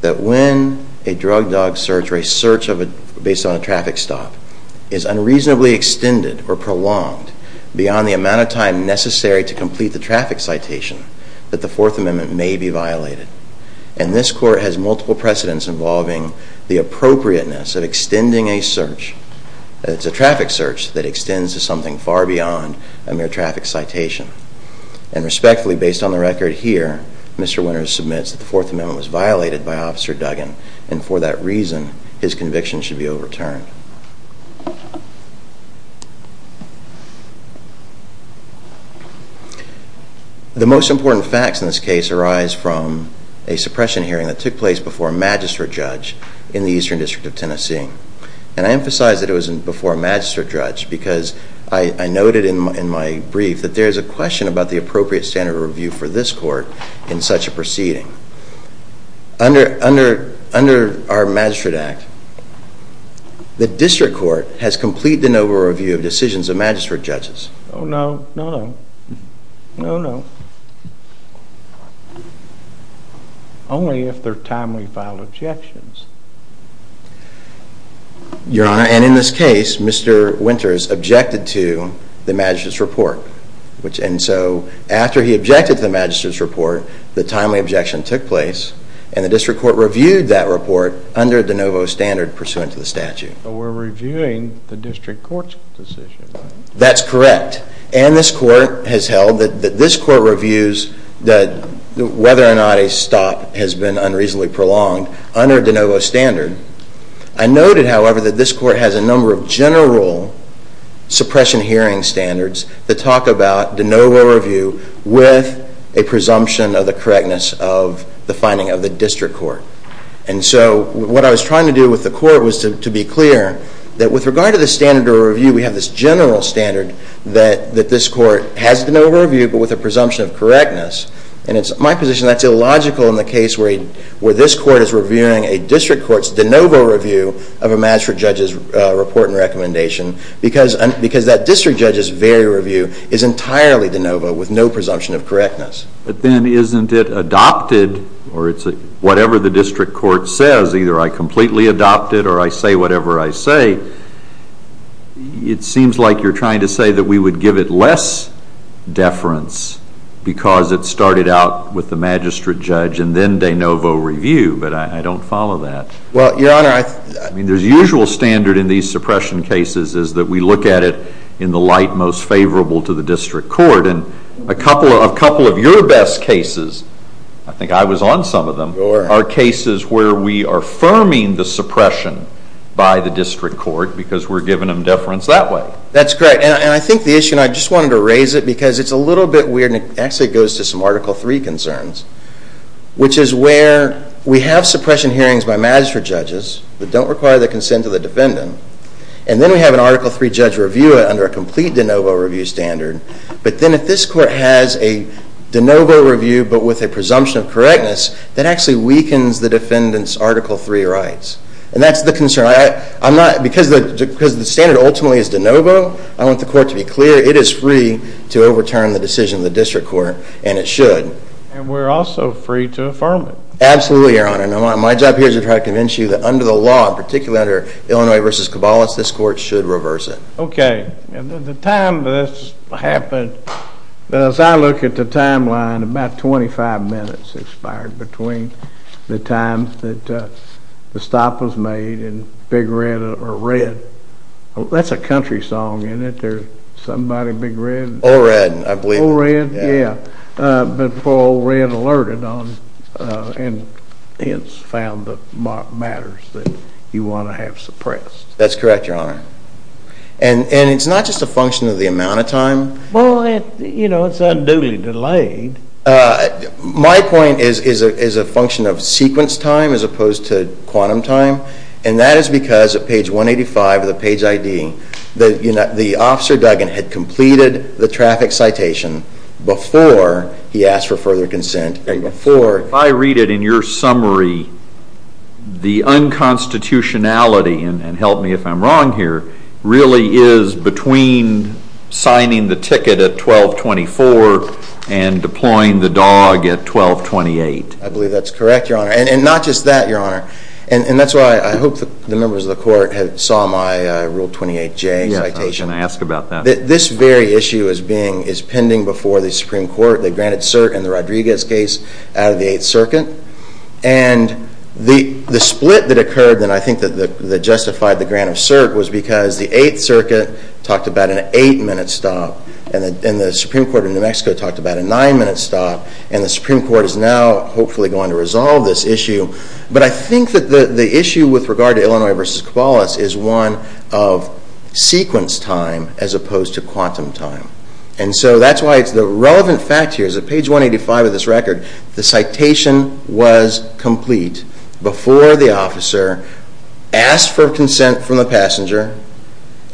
that when a drug dog search or a search based on a traffic stop is unreasonably extended or prolonged beyond the amount of time necessary to complete the traffic citation that the 4th amendment may be violated and this court has multiple precedents involving the appropriateness of extending a search, it's a traffic search that extends to something far beyond a mere traffic citation and respectfully based on the record here Mr. Winters submits that the 4th amendment was violated by Officer Duggan and for that reason his conviction should be overturned. The most important facts in this case arise from a suppression hearing that took place before a magistrate judge in the Eastern District of Tennessee and I emphasize that it was before a magistrate judge because I noted in my brief that there is a question about the appropriate standard of review for this court in such a proceeding. Under our magistrate act the district court has completed an over review of decisions of magistrate judges. Oh no, no, no, no, only if they are timely filed objections. Your honor and in this case Mr. Winters objected to the magistrate's report and so after he objected to the magistrate's report the timely objection took place and the district court reviewed that report under de novo standard pursuant to the statute. So we're reviewing the district court's decision. That's correct and this court has held that this court reviews whether or not a stop has been unreasonably prolonged under de novo standard. I noted however that this court has a number of general suppression hearing standards that talk about de novo review with a presumption of the correctness of the finding of the district court and so what I was trying to do with the court was to be clear that with regard to the standard of review we have this general standard that this court has de novo review but with a presumption of correctness and it's my position that's illogical in the case where this court is reviewing a district court's de novo review of a magistrate judge's report and recommendation because that district judge's very review is entirely de novo with no presumption of correctness. But then isn't it adopted or it's whatever the district court says either I completely adopt it or I say whatever I say. It seems like you're trying to say that we would give it less deference because it started out with the magistrate judge and then de novo review but I don't follow that. Well, your honor, I mean there's usual standard in these suppression cases is that we look at it in the light most favorable to the district court and a couple of your best cases, I think I was on some of them, are cases where we are firming the suppression by the district court because we're giving them deference that way. That's correct and I think the issue and I just wanted to raise it because it's a little bit weird and it actually goes to some article three concerns which is where we have suppression hearings by magistrate judges that don't require the consent of the defendant and then we have an article three judge review it under a complete de novo review standard but then if this court has a de novo review but with a presumption of correctness, that actually weakens the defendant's article three rights and that's the concern. Because the standard ultimately is de novo, I want the court to be clear it is free to overturn the decision of the district court and it should. And we're also free to affirm it. Absolutely, your honor. My job here is to try to convince you that under the law, particularly under Illinois v. Cabalas, this court should reverse it. Okay, the time this happened, as I look at the timeline, about 25 minutes expired between the time that the stop was made and Big Red or Red, that's a country song, isn't it? There's somebody, Big Red. Or Red, I believe. Or Red, yeah. But before Or Red alerted on and hence found the matters that you want to have suppressed. That's correct, your honor. And it's not just a function of the amount of time. Well, you know, it's unduly delayed. My point is a function of sequence time as opposed to quantum time. And that is because at page 185 of the page ID, the officer Duggan had completed the traffic citation before he asked for further consent. If I read it in your summary, the unconstitutionality, and help me if I'm wrong here, really is between signing the ticket at 1224 and deploying the dog at 1228. I believe that's correct, your honor. And not just that, your honor. And that's why I hope the members of the court saw my Rule 28J citation. Yeah, I'm going to ask about that. This very issue is pending before the Supreme Court. They granted cert in the Rodriguez case out of the Eighth Circuit. And the split that occurred that I think justified the grant of cert was because the Eighth Circuit talked about an eight-minute stop. And the Supreme Court of New Mexico talked about a nine-minute stop. And the Supreme Court is now hopefully going to resolve this issue. But I think that the issue with regard to Illinois v. Cabalas is one of sequence time as opposed to quantum time. And so that's why it's the relevant fact here is that page 185 of this record, the citation was complete before the officer asked for consent from the passenger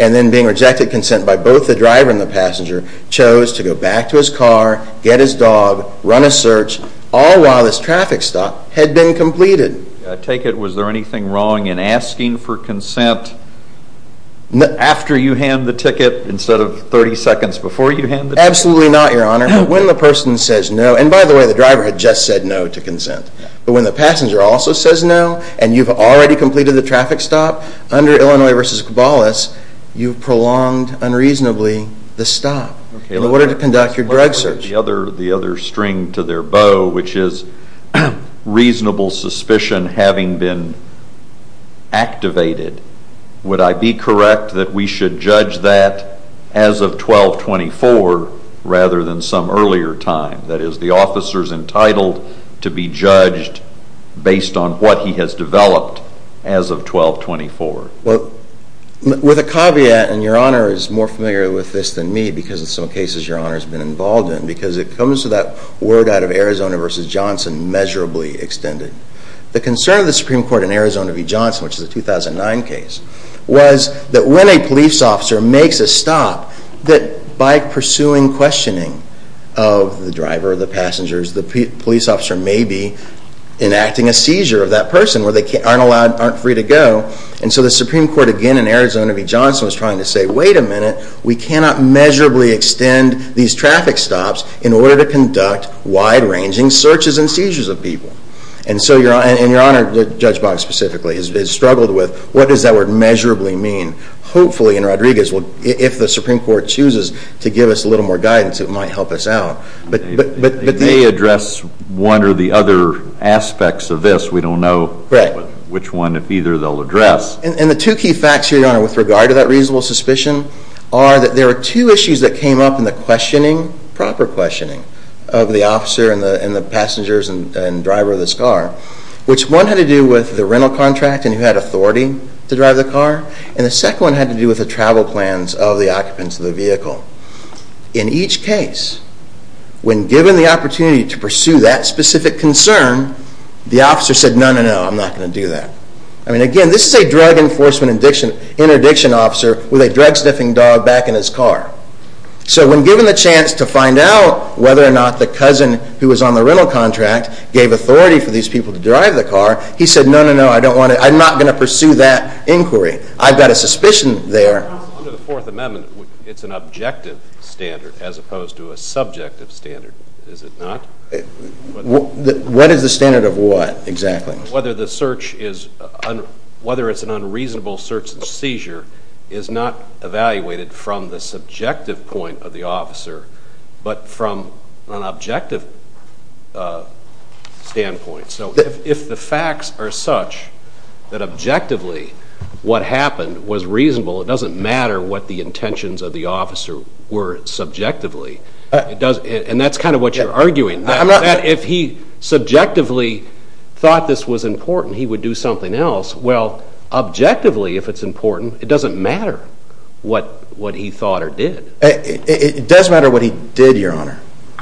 and then being rejected consent by both the driver and the passenger, chose to go back to his car, get his dog, run a search, all while this traffic stop had been completed. I take it, was there anything wrong in asking for consent after you hand the ticket instead of 30 seconds before you hand the ticket? Absolutely not, your honor. When the person says no, and by the way, the driver had just said no to consent. But when the passenger also says no and you've already completed the traffic stop under Illinois v. Cabalas, you've prolonged unreasonably the stop in order to conduct your drug search. The other string to their bow, which is reasonable suspicion having been activated, would I be correct that we should judge that as of 12-24 rather than some earlier time? That is, the officer is entitled to be judged based on what he has developed as of 12-24. With a caveat, and your honor is more familiar with this than me because in some cases your honor has been involved in, because it comes to that word out of Arizona v. Johnson, measurably extended. The concern of the Supreme Court in Arizona v. Johnson, which is a 2009 case, was that when a police officer makes a stop, that by pursuing questioning of the driver, the passengers, the police officer may be enacting a seizure of that person where they aren't allowed, aren't free to go. And so the Supreme Court again in Arizona v. Johnson was trying to say, wait a minute, we cannot measurably extend these traffic stops in order to conduct wide-ranging searches and seizures of people. And so your honor, Judge Boggs specifically, has struggled with what does that word measurably mean. Hopefully in Rodriguez, if the Supreme Court chooses to give us a little more guidance, it might help us out. They may address one or the other aspects of this. We don't know which one, if either, they'll address. And the two key facts here, your honor, with regard to that reasonable suspicion, are that there are two issues that came up in the questioning, proper questioning, of the officer and the passengers and driver of this car, which one had to do with the rental contract and who had authority to drive the car, and the second one had to do with the travel plans of the occupants of the vehicle. In each case, when given the opportunity to pursue that specific concern, the officer said, no, no, no, I'm not going to do that. I mean, again, this is a drug enforcement interdiction officer with a drug sniffing dog back in his car. So when given the chance to find out whether or not the cousin who was on the rental contract gave authority for these people to drive the car, he said, no, no, no, I'm not going to pursue that inquiry. I've got a suspicion there. Under the Fourth Amendment, it's an objective standard as opposed to a subjective standard, is it not? What is the standard of what exactly? Whether it's an unreasonable search and seizure is not evaluated from the subjective point of the officer but from an objective standpoint. So if the facts are such that objectively what happened was reasonable, it doesn't matter what the intentions of the officer were subjectively, and that's kind of what you're arguing. If he subjectively thought this was important, he would do something else. Well, objectively, if it's important, it doesn't matter what he thought or did. It does matter what he did, Your Honor,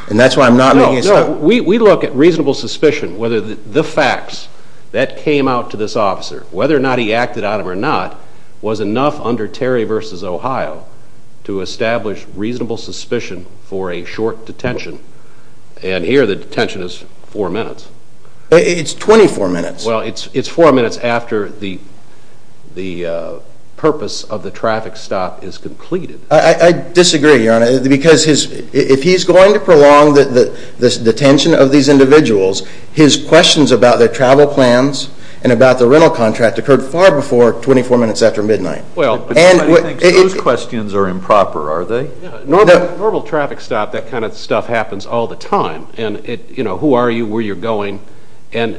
and that's why I'm not making a statement. We look at reasonable suspicion, whether the facts that came out to this officer, whether or not he acted on them or not, was enough under Terry v. Ohio to establish reasonable suspicion for a short detention, and here the detention is four minutes. It's 24 minutes. Well, it's four minutes after the purpose of the traffic stop is completed. I disagree, Your Honor, because if he's going to prolong the detention of these individuals, his questions about their travel plans and about the rental contract occurred far before 24 minutes after midnight. Well, nobody thinks those questions are improper, are they? Normal traffic stop, that kind of stuff happens all the time, and, you know, who are you, where you're going, and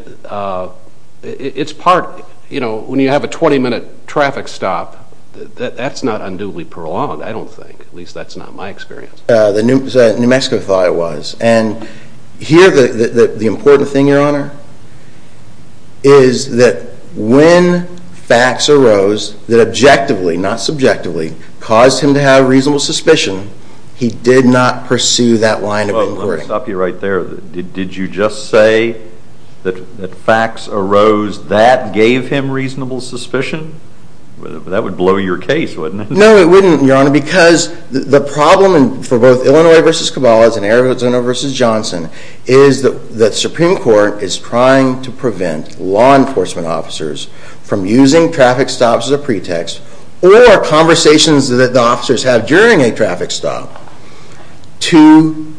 it's part, you know, when you have a 20-minute traffic stop, that's not unduly prolonged, I don't think. At least that's not my experience. New Mexico thought it was, and here the important thing, Your Honor, is that when facts arose that objectively, not subjectively, caused him to have reasonable suspicion, he did not pursue that line of inquiry. Let me stop you right there. Did you just say that facts arose that gave him reasonable suspicion? That would blow your case, wouldn't it? No, it wouldn't, Your Honor, because the problem for both Illinois v. Cabalas and Arizona v. Johnson is that Supreme Court is trying to prevent law enforcement officers from using traffic stops as a pretext or conversations that the officers have during a traffic stop to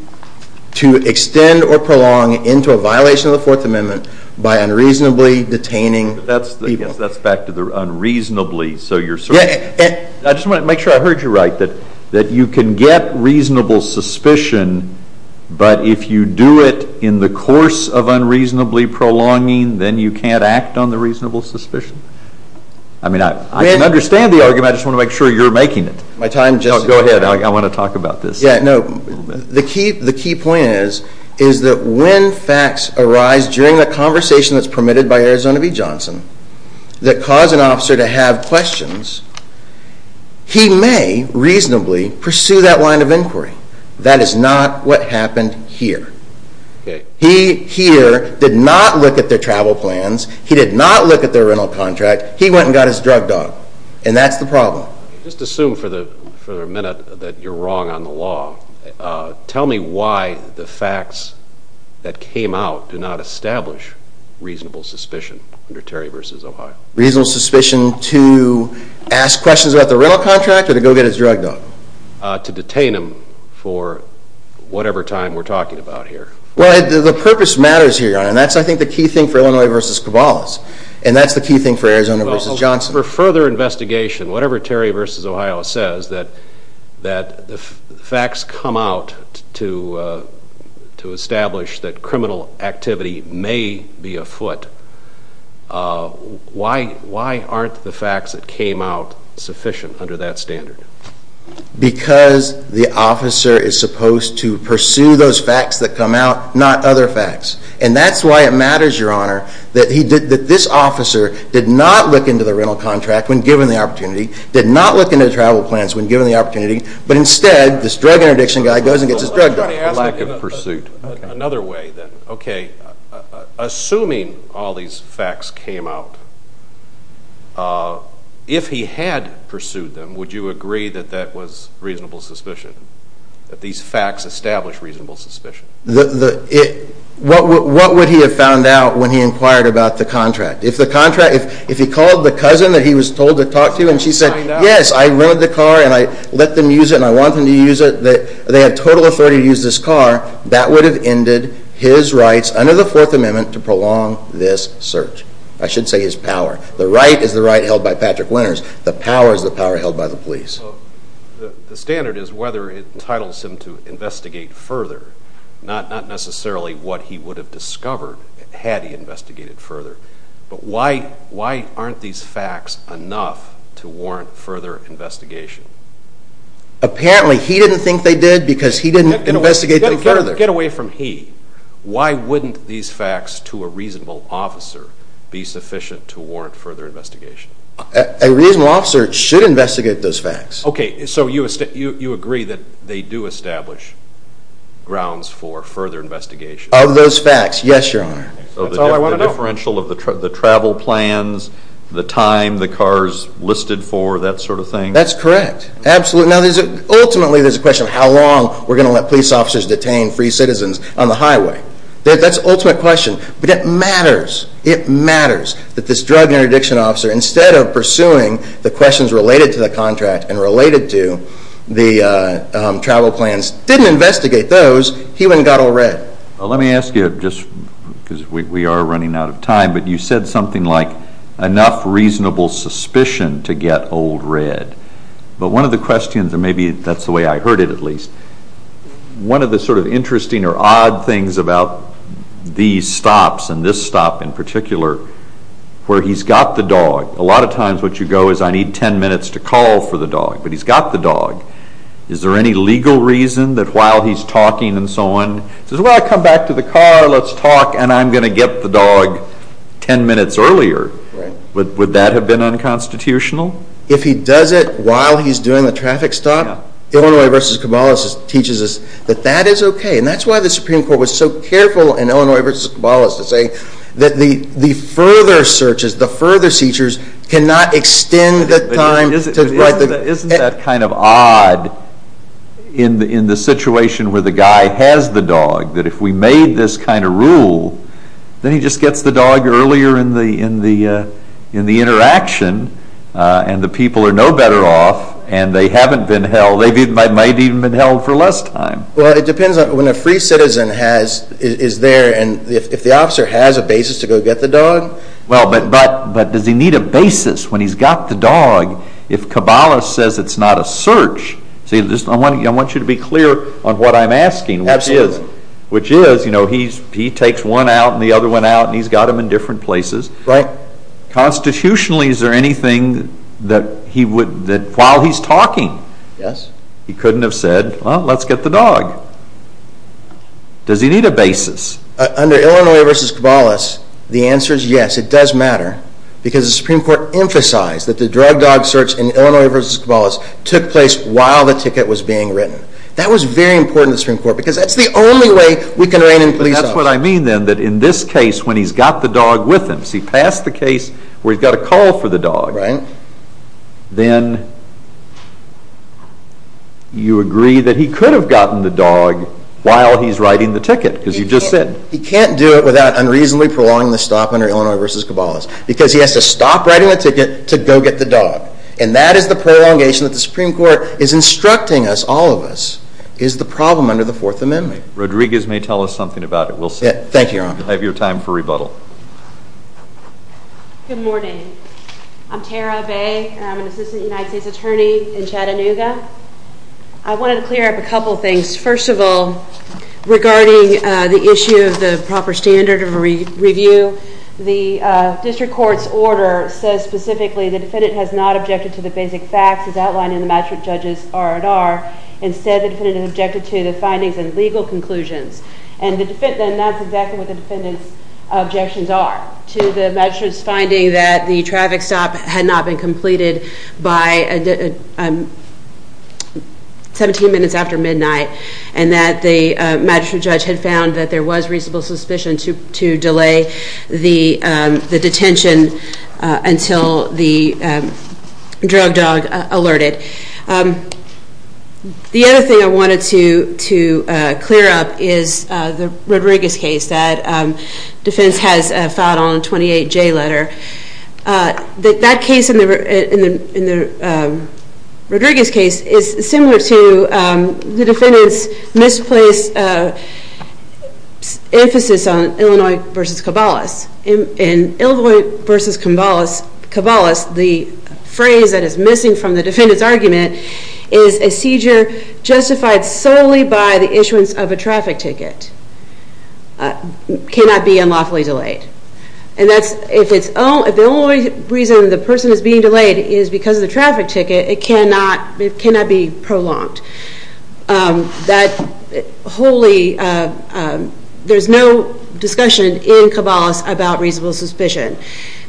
extend or prolong into a violation of the Fourth Amendment by unreasonably detaining people. I guess that's back to the unreasonably, so you're certain. I just want to make sure I heard you right, that you can get reasonable suspicion, but if you do it in the course of unreasonably prolonging, then you can't act on the reasonable suspicion? I mean, I can understand the argument, I just want to make sure you're making it. Go ahead, I want to talk about this. The key point is that when facts arise during the conversation that's permitted by Arizona v. Johnson that cause an officer to have questions, he may reasonably pursue that line of inquiry. That is not what happened here. He here did not look at their travel plans, he did not look at their rental contract, he went and got his drug dog, and that's the problem. Just assume for a minute that you're wrong on the law. Tell me why the facts that came out do not establish reasonable suspicion under Terry v. Ohio. Reasonable suspicion to ask questions about the rental contract or to go get his drug dog? To detain him for whatever time we're talking about here. Well, the purpose matters here, and that's, I think, the key thing for Illinois v. Cabalas, and that's the key thing for Arizona v. Johnson. Well, for further investigation, whatever Terry v. Ohio says, that the facts come out to establish that criminal activity may be afoot, why aren't the facts that came out sufficient under that standard? Because the officer is supposed to pursue those facts that come out, not other facts. And that's why it matters, Your Honor, that this officer did not look into the rental contract when given the opportunity, did not look into the travel plans when given the opportunity, but instead this drug interdiction guy goes and gets his drug dog. Lack of pursuit. Lack of pursuit. Another way, then. Okay, assuming all these facts came out, if he had pursued them, would you agree that that was reasonable suspicion, that these facts establish reasonable suspicion? What would he have found out when he inquired about the contract? If he called the cousin that he was told to talk to and she said, yes, I rent the car and I let them use it and I want them to use it, and they have total authority to use this car, that would have ended his rights under the Fourth Amendment to prolong this search. I should say his power. The right is the right held by Patrick Winters. The power is the power held by the police. The standard is whether it entitles him to investigate further, not necessarily what he would have discovered had he investigated further. But why aren't these facts enough to warrant further investigation? Apparently he didn't think they did because he didn't investigate them further. Get away from he. Why wouldn't these facts to a reasonable officer be sufficient to warrant further investigation? A reasonable officer should investigate those facts. Okay, so you agree that they do establish grounds for further investigation? Of those facts, yes, Your Honor. So the differential of the travel plans, the time, the cars listed for, that sort of thing? That's correct. Ultimately there's a question of how long we're going to let police officers detain free citizens on the highway. That's the ultimate question. But it matters. It matters that this drug and interdiction officer, instead of pursuing the questions related to the contract and related to the travel plans, didn't investigate those, he went and got Old Red. Let me ask you, just because we are running out of time, but you said something like enough reasonable suspicion to get Old Red. But one of the questions, and maybe that's the way I heard it at least, one of the sort of interesting or odd things about these stops and this stop in particular, where he's got the dog, a lot of times what you go is I need ten minutes to call for the dog, but he's got the dog. Is there any legal reason that while he's talking and so on, he says, well, I'll come back to the car, let's talk, and I'm going to get the dog ten minutes earlier. Would that have been unconstitutional? If he does it while he's doing the traffic stop, Illinois v. Kabbalah teaches us that that is okay. And that's why the Supreme Court was so careful in Illinois v. Kabbalah to say that the further searches, the further seizures cannot extend the time. Isn't that kind of odd in the situation where the guy has the dog, that if we made this kind of rule, then he just gets the dog earlier in the interaction and the people are no better off and they haven't been held. They might have even been held for less time. Well, it depends on when a free citizen is there and if the officer has a basis to go get the dog. But does he need a basis when he's got the dog if Kabbalah says it's not a search? I want you to be clear on what I'm asking, which is he takes one out and the other one out and he's got them in different places. Constitutionally, is there anything that while he's talking he couldn't have said, well, let's get the dog? Does he need a basis? Under Illinois v. Kabbalah, the answer is yes, it does matter, because the Supreme Court emphasized that the drug dog search in Illinois v. Kabbalah took place while the ticket was being written. That was very important to the Supreme Court because that's the only way we can rein in police officers. But that's what I mean then, that in this case, when he's got the dog with him, so he passed the case where he's got a call for the dog, then you agree that he could have gotten the dog while he's writing the ticket because you just said. He can't do it without unreasonably prolonging the stop under Illinois v. Kabbalah because he has to stop writing the ticket to go get the dog. And that is the prolongation that the Supreme Court is instructing us, all of us, is the problem under the Fourth Amendment. Rodriguez may tell us something about it. We'll see. Thank you, Your Honor. I have your time for rebuttal. Good morning. I'm Tara Bay. I'm an Assistant United States Attorney in Chattanooga. I wanted to clear up a couple things. First of all, regarding the issue of the proper standard of review, the district court's order says specifically the defendant has not objected to the basic facts as outlined in the magistrate judge's R&R. Instead, the defendant has objected to the findings and legal conclusions. And that's exactly what the defendant's objections are, to the magistrate's finding that the traffic stop had not been completed by 17 minutes after midnight and that the magistrate judge had found that there was reasonable suspicion to delay the detention until the drug dog alerted. The other thing I wanted to clear up is the Rodriguez case that defense has filed on 28J letter. That case in the Rodriguez case is similar to the defendant's misplaced emphasis on Illinois v. Cabalas. In Illinois v. Cabalas, the phrase that is missing from the defendant's argument is a seizure justified solely by the issuance of a traffic ticket cannot be unlawfully delayed. And if the only reason the person is being delayed is because of the traffic ticket, it cannot be prolonged. There's no discussion in Cabalas about reasonable suspicion.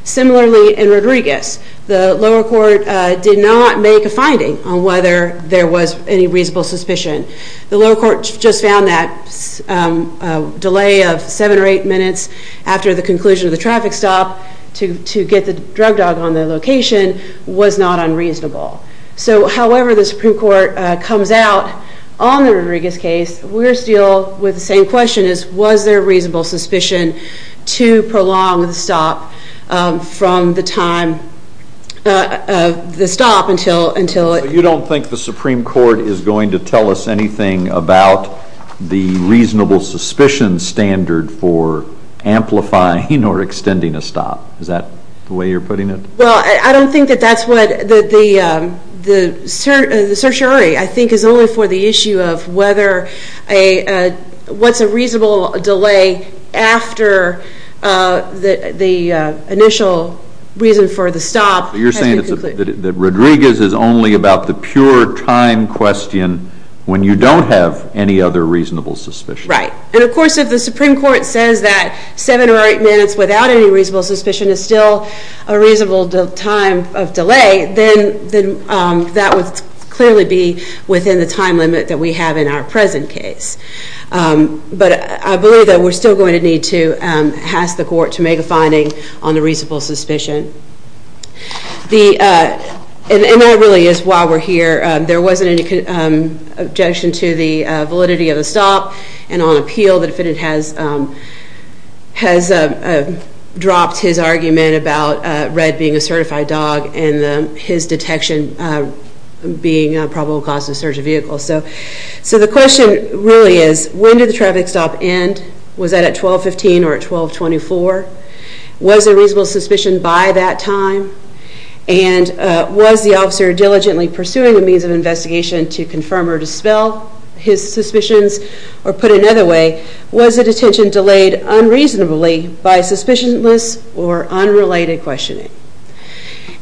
Similarly in Rodriguez, the lower court did not make a finding on whether there was any reasonable suspicion. The lower court just found that a delay of 7 or 8 minutes after the conclusion of the traffic stop to get the drug dog on the location was not unreasonable. So however the Supreme Court comes out on the Rodriguez case, we're still with the same question as was there reasonable suspicion to prolong the stop from the time of the stop until it... I don't think there's anything about the reasonable suspicion standard for amplifying or extending a stop. Is that the way you're putting it? Well, I don't think that that's what the certiorari, I think, is only for the issue of what's a reasonable delay after the initial reason for the stop has been completed. That Rodriguez is only about the pure time question when you don't have any other reasonable suspicion. Right. And of course if the Supreme Court says that 7 or 8 minutes without any reasonable suspicion is still a reasonable time of delay, then that would clearly be within the time limit that we have in our present case. But I believe that we're still going to need to ask the court to make a finding on the reasonable suspicion. And that really is why we're here. There wasn't any objection to the validity of the stop and on appeal the defendant has dropped his argument about Red being a certified dog and his detection being a probable cause of a surge of vehicles. So the question really is when did the traffic stop end? Was that at 12.15 or at 12.24? Was there reasonable suspicion by that time? And was the officer diligently pursuing the means of investigation to confirm or dispel his suspicions? Or put another way, was the detention delayed unreasonably by suspicionless or unrelated questioning?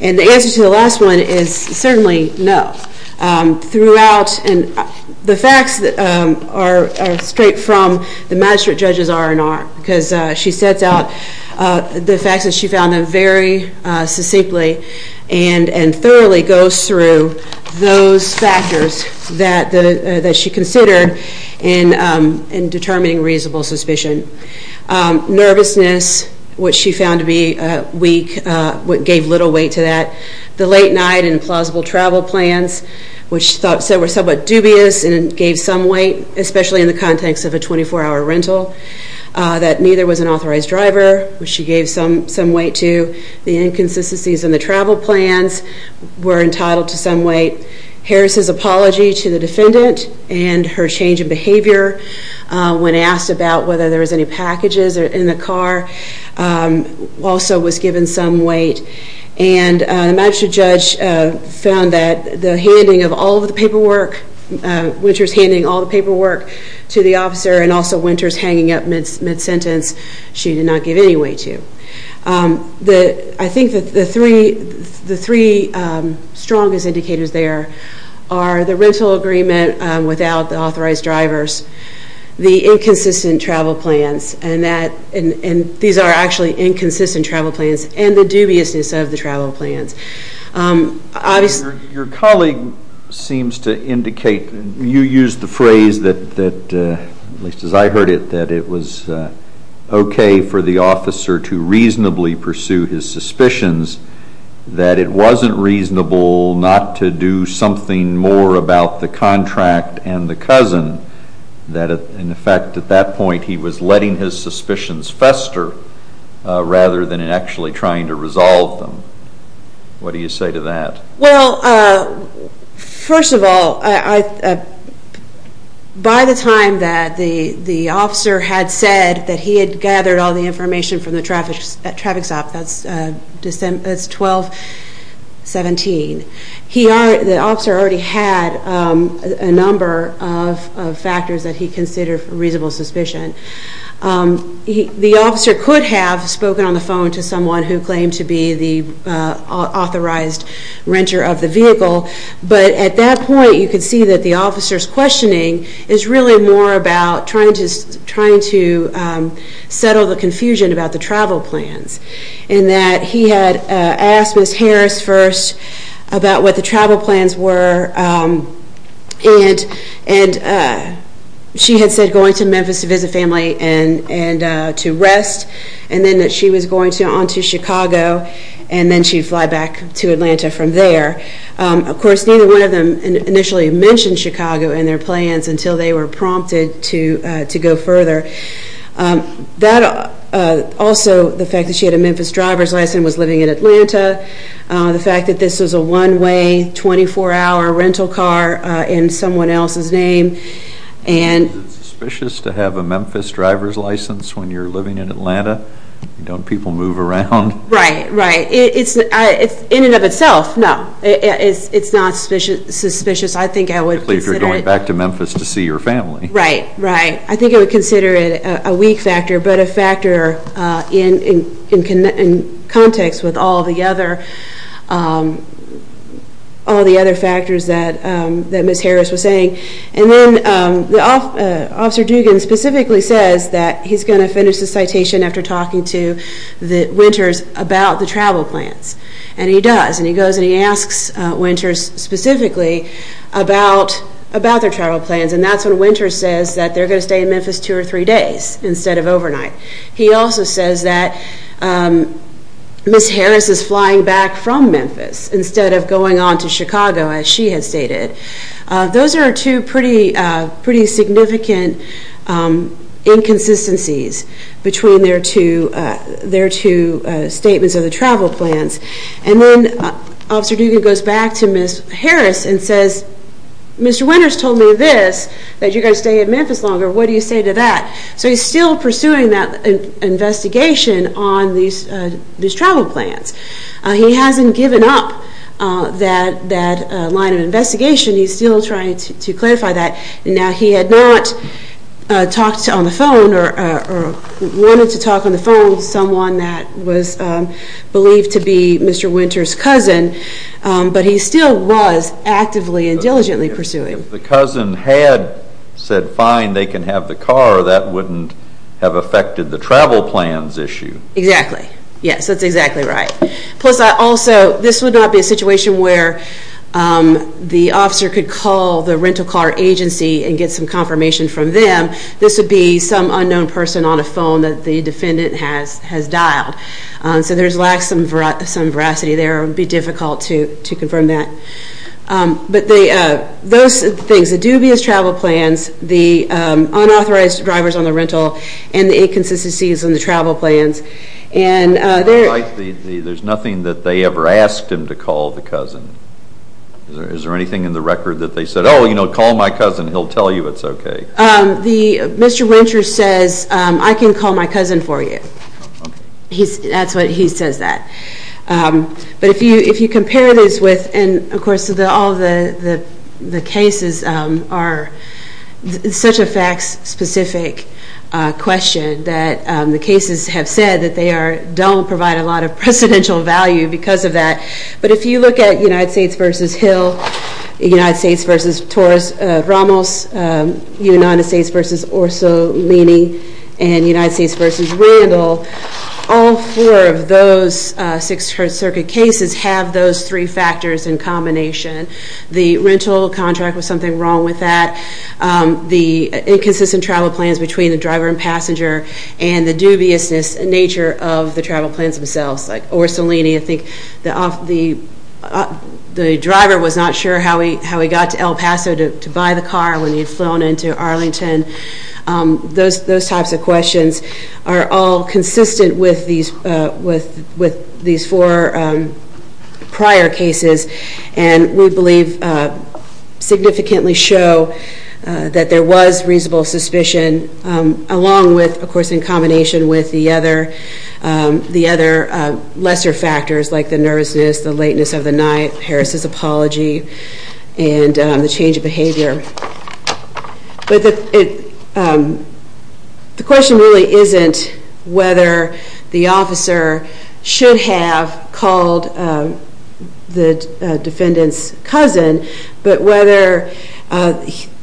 And the answer to the last one is certainly no. Throughout and the facts are straight from the magistrate judge's R&R because she sets out the facts that she found very succinctly and thoroughly goes through those factors that she considered in determining reasonable suspicion. Nervousness, which she found to be weak, gave little weight to that. The late night and implausible travel plans, which she said were somewhat dubious and gave some weight, especially in the context of a 24-hour rental. That neither was an authorized driver, which she gave some weight to. The inconsistencies in the travel plans were entitled to some weight. Harris's apology to the defendant and her change of behavior when asked about whether there was any packages in the car also was given some weight. And the magistrate judge found that the handing of all the paperwork, Winters handing all the paperwork to the officer and also Winters hanging up mid-sentence, she did not give any weight to. I think the three strongest indicators there are the rental agreement without the authorized drivers, the inconsistent travel plans, and these are actually inconsistent travel plans, and the dubiousness of the travel plans. Your colleague seems to indicate, you used the phrase, at least as I heard it, that it was okay for the officer to reasonably pursue his suspicions, that it wasn't reasonable not to do something more about the contract and the cousin, that in effect at that point he was letting his suspicions fester rather than actually trying to resolve them. What do you say to that? Well, first of all, by the time that the officer had said that he had gathered all the information from the traffic stop, that's 12-17, the officer already had a number of factors that he considered reasonable suspicion. The officer could have spoken on the phone to someone who claimed to be the authorized renter of the vehicle, but at that point you could see that the officer's questioning is really more about trying to settle the confusion about the travel plans and that he had asked Ms. Harris first about what the travel plans were and she had said going to Memphis to visit family and to rest and then that she was going on to Chicago and then she'd fly back to Atlanta from there. Of course, neither one of them initially mentioned Chicago and their plans until they were prompted to go further. Also, the fact that she had a Memphis driver's license and was living in Atlanta, the fact that this was a one-way, 24-hour rental car in someone else's name. Is it suspicious to have a Memphis driver's license when you're living in Atlanta? Don't people move around? Right, right. In and of itself, no, it's not suspicious. I think I would consider it. If you're going back to Memphis to see your family. Right, right. I think I would consider it a weak factor, but a factor in context with all the other factors that Ms. Harris was saying. And then Officer Dugan specifically says that he's going to finish the citation after talking to the Winters about the travel plans, and he does. And he goes and he asks Winters specifically about their travel plans and that's when Winters says that they're going to stay in Memphis two or three days instead of overnight. He also says that Ms. Harris is flying back from Memphis instead of going on to Chicago, as she had stated. Those are two pretty significant inconsistencies between their two statements of the travel plans. And then Officer Dugan goes back to Ms. Harris and says, Mr. Winters told me this, that you're going to stay in Memphis longer. What do you say to that? So he's still pursuing that investigation on these travel plans. He hasn't given up that line of investigation. He's still trying to clarify that. Now, he had not talked on the phone or wanted to talk on the phone with someone that was believed to be Mr. Winters' cousin, but he still was actively and diligently pursuing. If the cousin had said fine, they can have the car, that wouldn't have affected the travel plans issue. Exactly. Yes, that's exactly right. Plus, also, this would not be a situation where the officer could call the rental car agency and get some confirmation from them. This would be some unknown person on a phone that the defendant has dialed. So there's some veracity there. It would be difficult to confirm that. But those things, the dubious travel plans, the unauthorized drivers on the rental, and the inconsistencies in the travel plans. There's nothing that they ever asked him to call the cousin. Is there anything in the record that they said, oh, you know, call my cousin, he'll tell you it's okay? Mr. Winters says, I can call my cousin for you. That's what he says that. But if you compare this with, and, of course, all the cases are such a fact-specific question that the cases have said that they don't provide a lot of precedential value because of that. But if you look at United States v. Hill, United States v. Ramos, United States v. Orsolini, and United States v. Randall, all four of those Sixth Circuit cases have those three factors in combination. The rental contract was something wrong with that. The inconsistent travel plans between the driver and passenger and the dubious nature of the travel plans themselves, like Orsolini, I think the driver was not sure how he got to El Paso to buy the car when he had flown into Arlington. Those types of questions are all consistent with these four prior cases, and we believe significantly show that there was reasonable suspicion, along with, of course, in combination with the other lesser factors like the nervousness, the lateness of the night, Harris's apology, and the change of behavior. But the question really isn't whether the officer should have called the defendant's cousin, but whether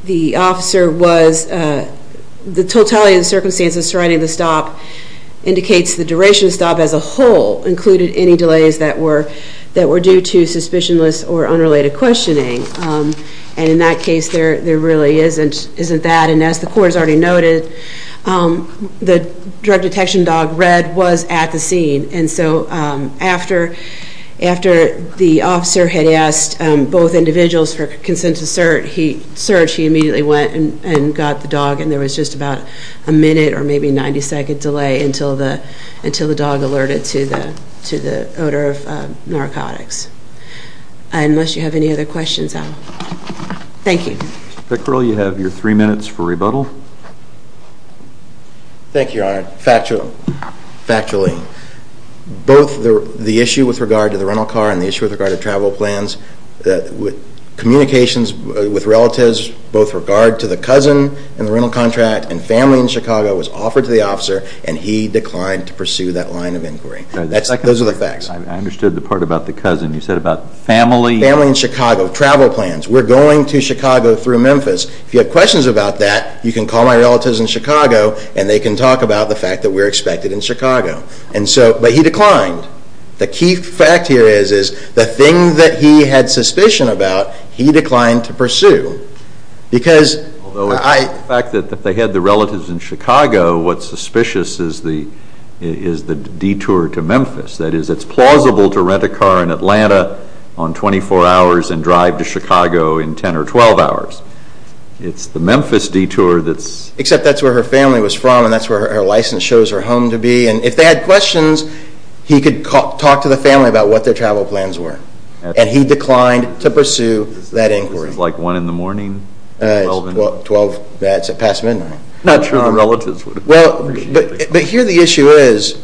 the officer was, the totality of the circumstances surrounding the stop indicates the duration of the stop as a whole included any delays that were due to suspicionless or unrelated questioning. And in that case, there really isn't that. And as the court has already noted, the drug detection dog, Red, was at the scene. And so after the officer had asked both individuals for consent to search, he immediately went and got the dog, and there was just about a minute or maybe 90-second delay until the dog alerted to the odor of narcotics. Unless you have any other questions, Adam. Thank you. Mr. Pickrell, you have your three minutes for rebuttal. Thank you, Your Honor. Factually, both the issue with regard to the rental car and the issue with regard to travel plans, communications with relatives both with regard to the cousin in the rental contract and family in Chicago was offered to the officer, and he declined to pursue that line of inquiry. Those are the facts. I understood the part about the cousin. You said about family. Family in Chicago, travel plans. We're going to Chicago through Memphis. If you have questions about that, you can call my relatives in Chicago and they can talk about the fact that we're expected in Chicago. But he declined. The key fact here is the thing that he had suspicion about, he declined to pursue. Although the fact that they had the relatives in Chicago, what's suspicious is the detour to Memphis. That is, it's plausible to rent a car in Atlanta on 24 hours and drive to Chicago in 10 or 12 hours. It's the Memphis detour that's Except that's where her family was from and that's where her license shows her home to be. And if they had questions, he could talk to the family about what their travel plans were. And he declined to pursue that inquiry. This is like 1 in the morning? It's past midnight. I'm not sure the relatives would appreciate it. But here the issue is,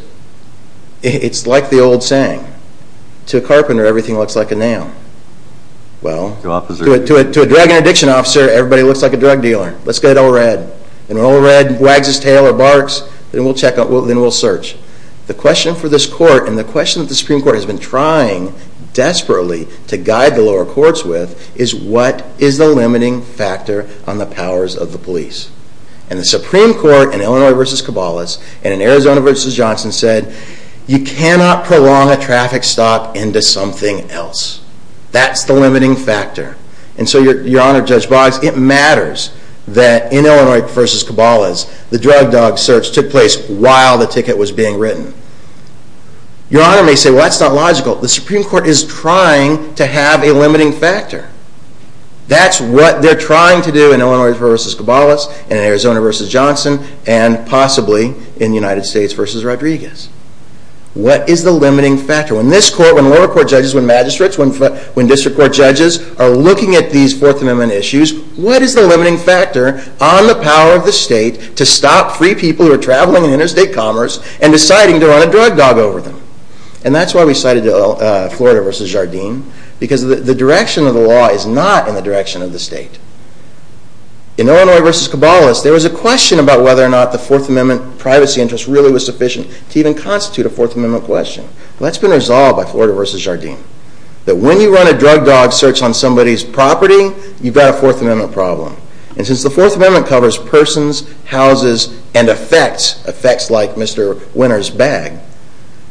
it's like the old saying. To a carpenter, everything looks like a nail. To a drug and addiction officer, everybody looks like a drug dealer. Let's get it all red. And when all red wags its tail or barks, then we'll search. The question for this court and the question that the Supreme Court has been trying desperately to guide the lower courts with is what is the limiting factor on the powers of the police? And the Supreme Court in Illinois v. Cabalas and in Arizona v. Johnson said you cannot prolong a traffic stop into something else. That's the limiting factor. And so your Honor, Judge Boggs, it matters that in Illinois v. Cabalas the drug dog search took place while the ticket was being written. Your Honor may say, well that's not logical. The Supreme Court is trying to have a limiting factor. That's what they're trying to do in Illinois v. Cabalas, in Arizona v. Johnson, and possibly in the United States v. Rodriguez. What is the limiting factor? When this court, when lower court judges, when magistrates, when district court judges are looking at these Fourth Amendment issues, what is the limiting factor on the power of the state to stop free people who are traveling in interstate commerce and deciding to run a drug dog over them? And that's why we cited Florida v. Jardim. Because the direction of the law is not in the direction of the state. In Illinois v. Cabalas, there was a question about whether or not the Fourth Amendment privacy interest really was sufficient to even constitute a Fourth Amendment question. Well that's been resolved by Florida v. Jardim. That when you run a drug dog search on somebody's property, you've got a Fourth Amendment problem. And since the Fourth Amendment covers persons, houses, and effects, effects like Mr. Winter's bag,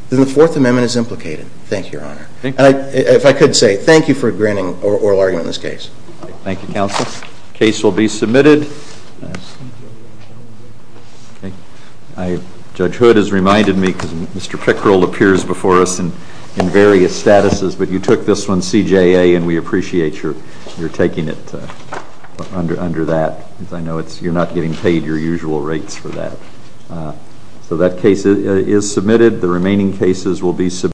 then the Fourth Amendment is implicated. Thank you, Your Honor. And if I could say, thank you for granting oral argument in this case. Thank you, counsel. Case will be submitted. Judge Hood has reminded me, because Mr. Pickrell appears before us in various statuses, but you took this one CJA and we appreciate your taking it under that. I know you're not getting paid your usual rates for that. So that case is submitted. The remaining cases will be submitted.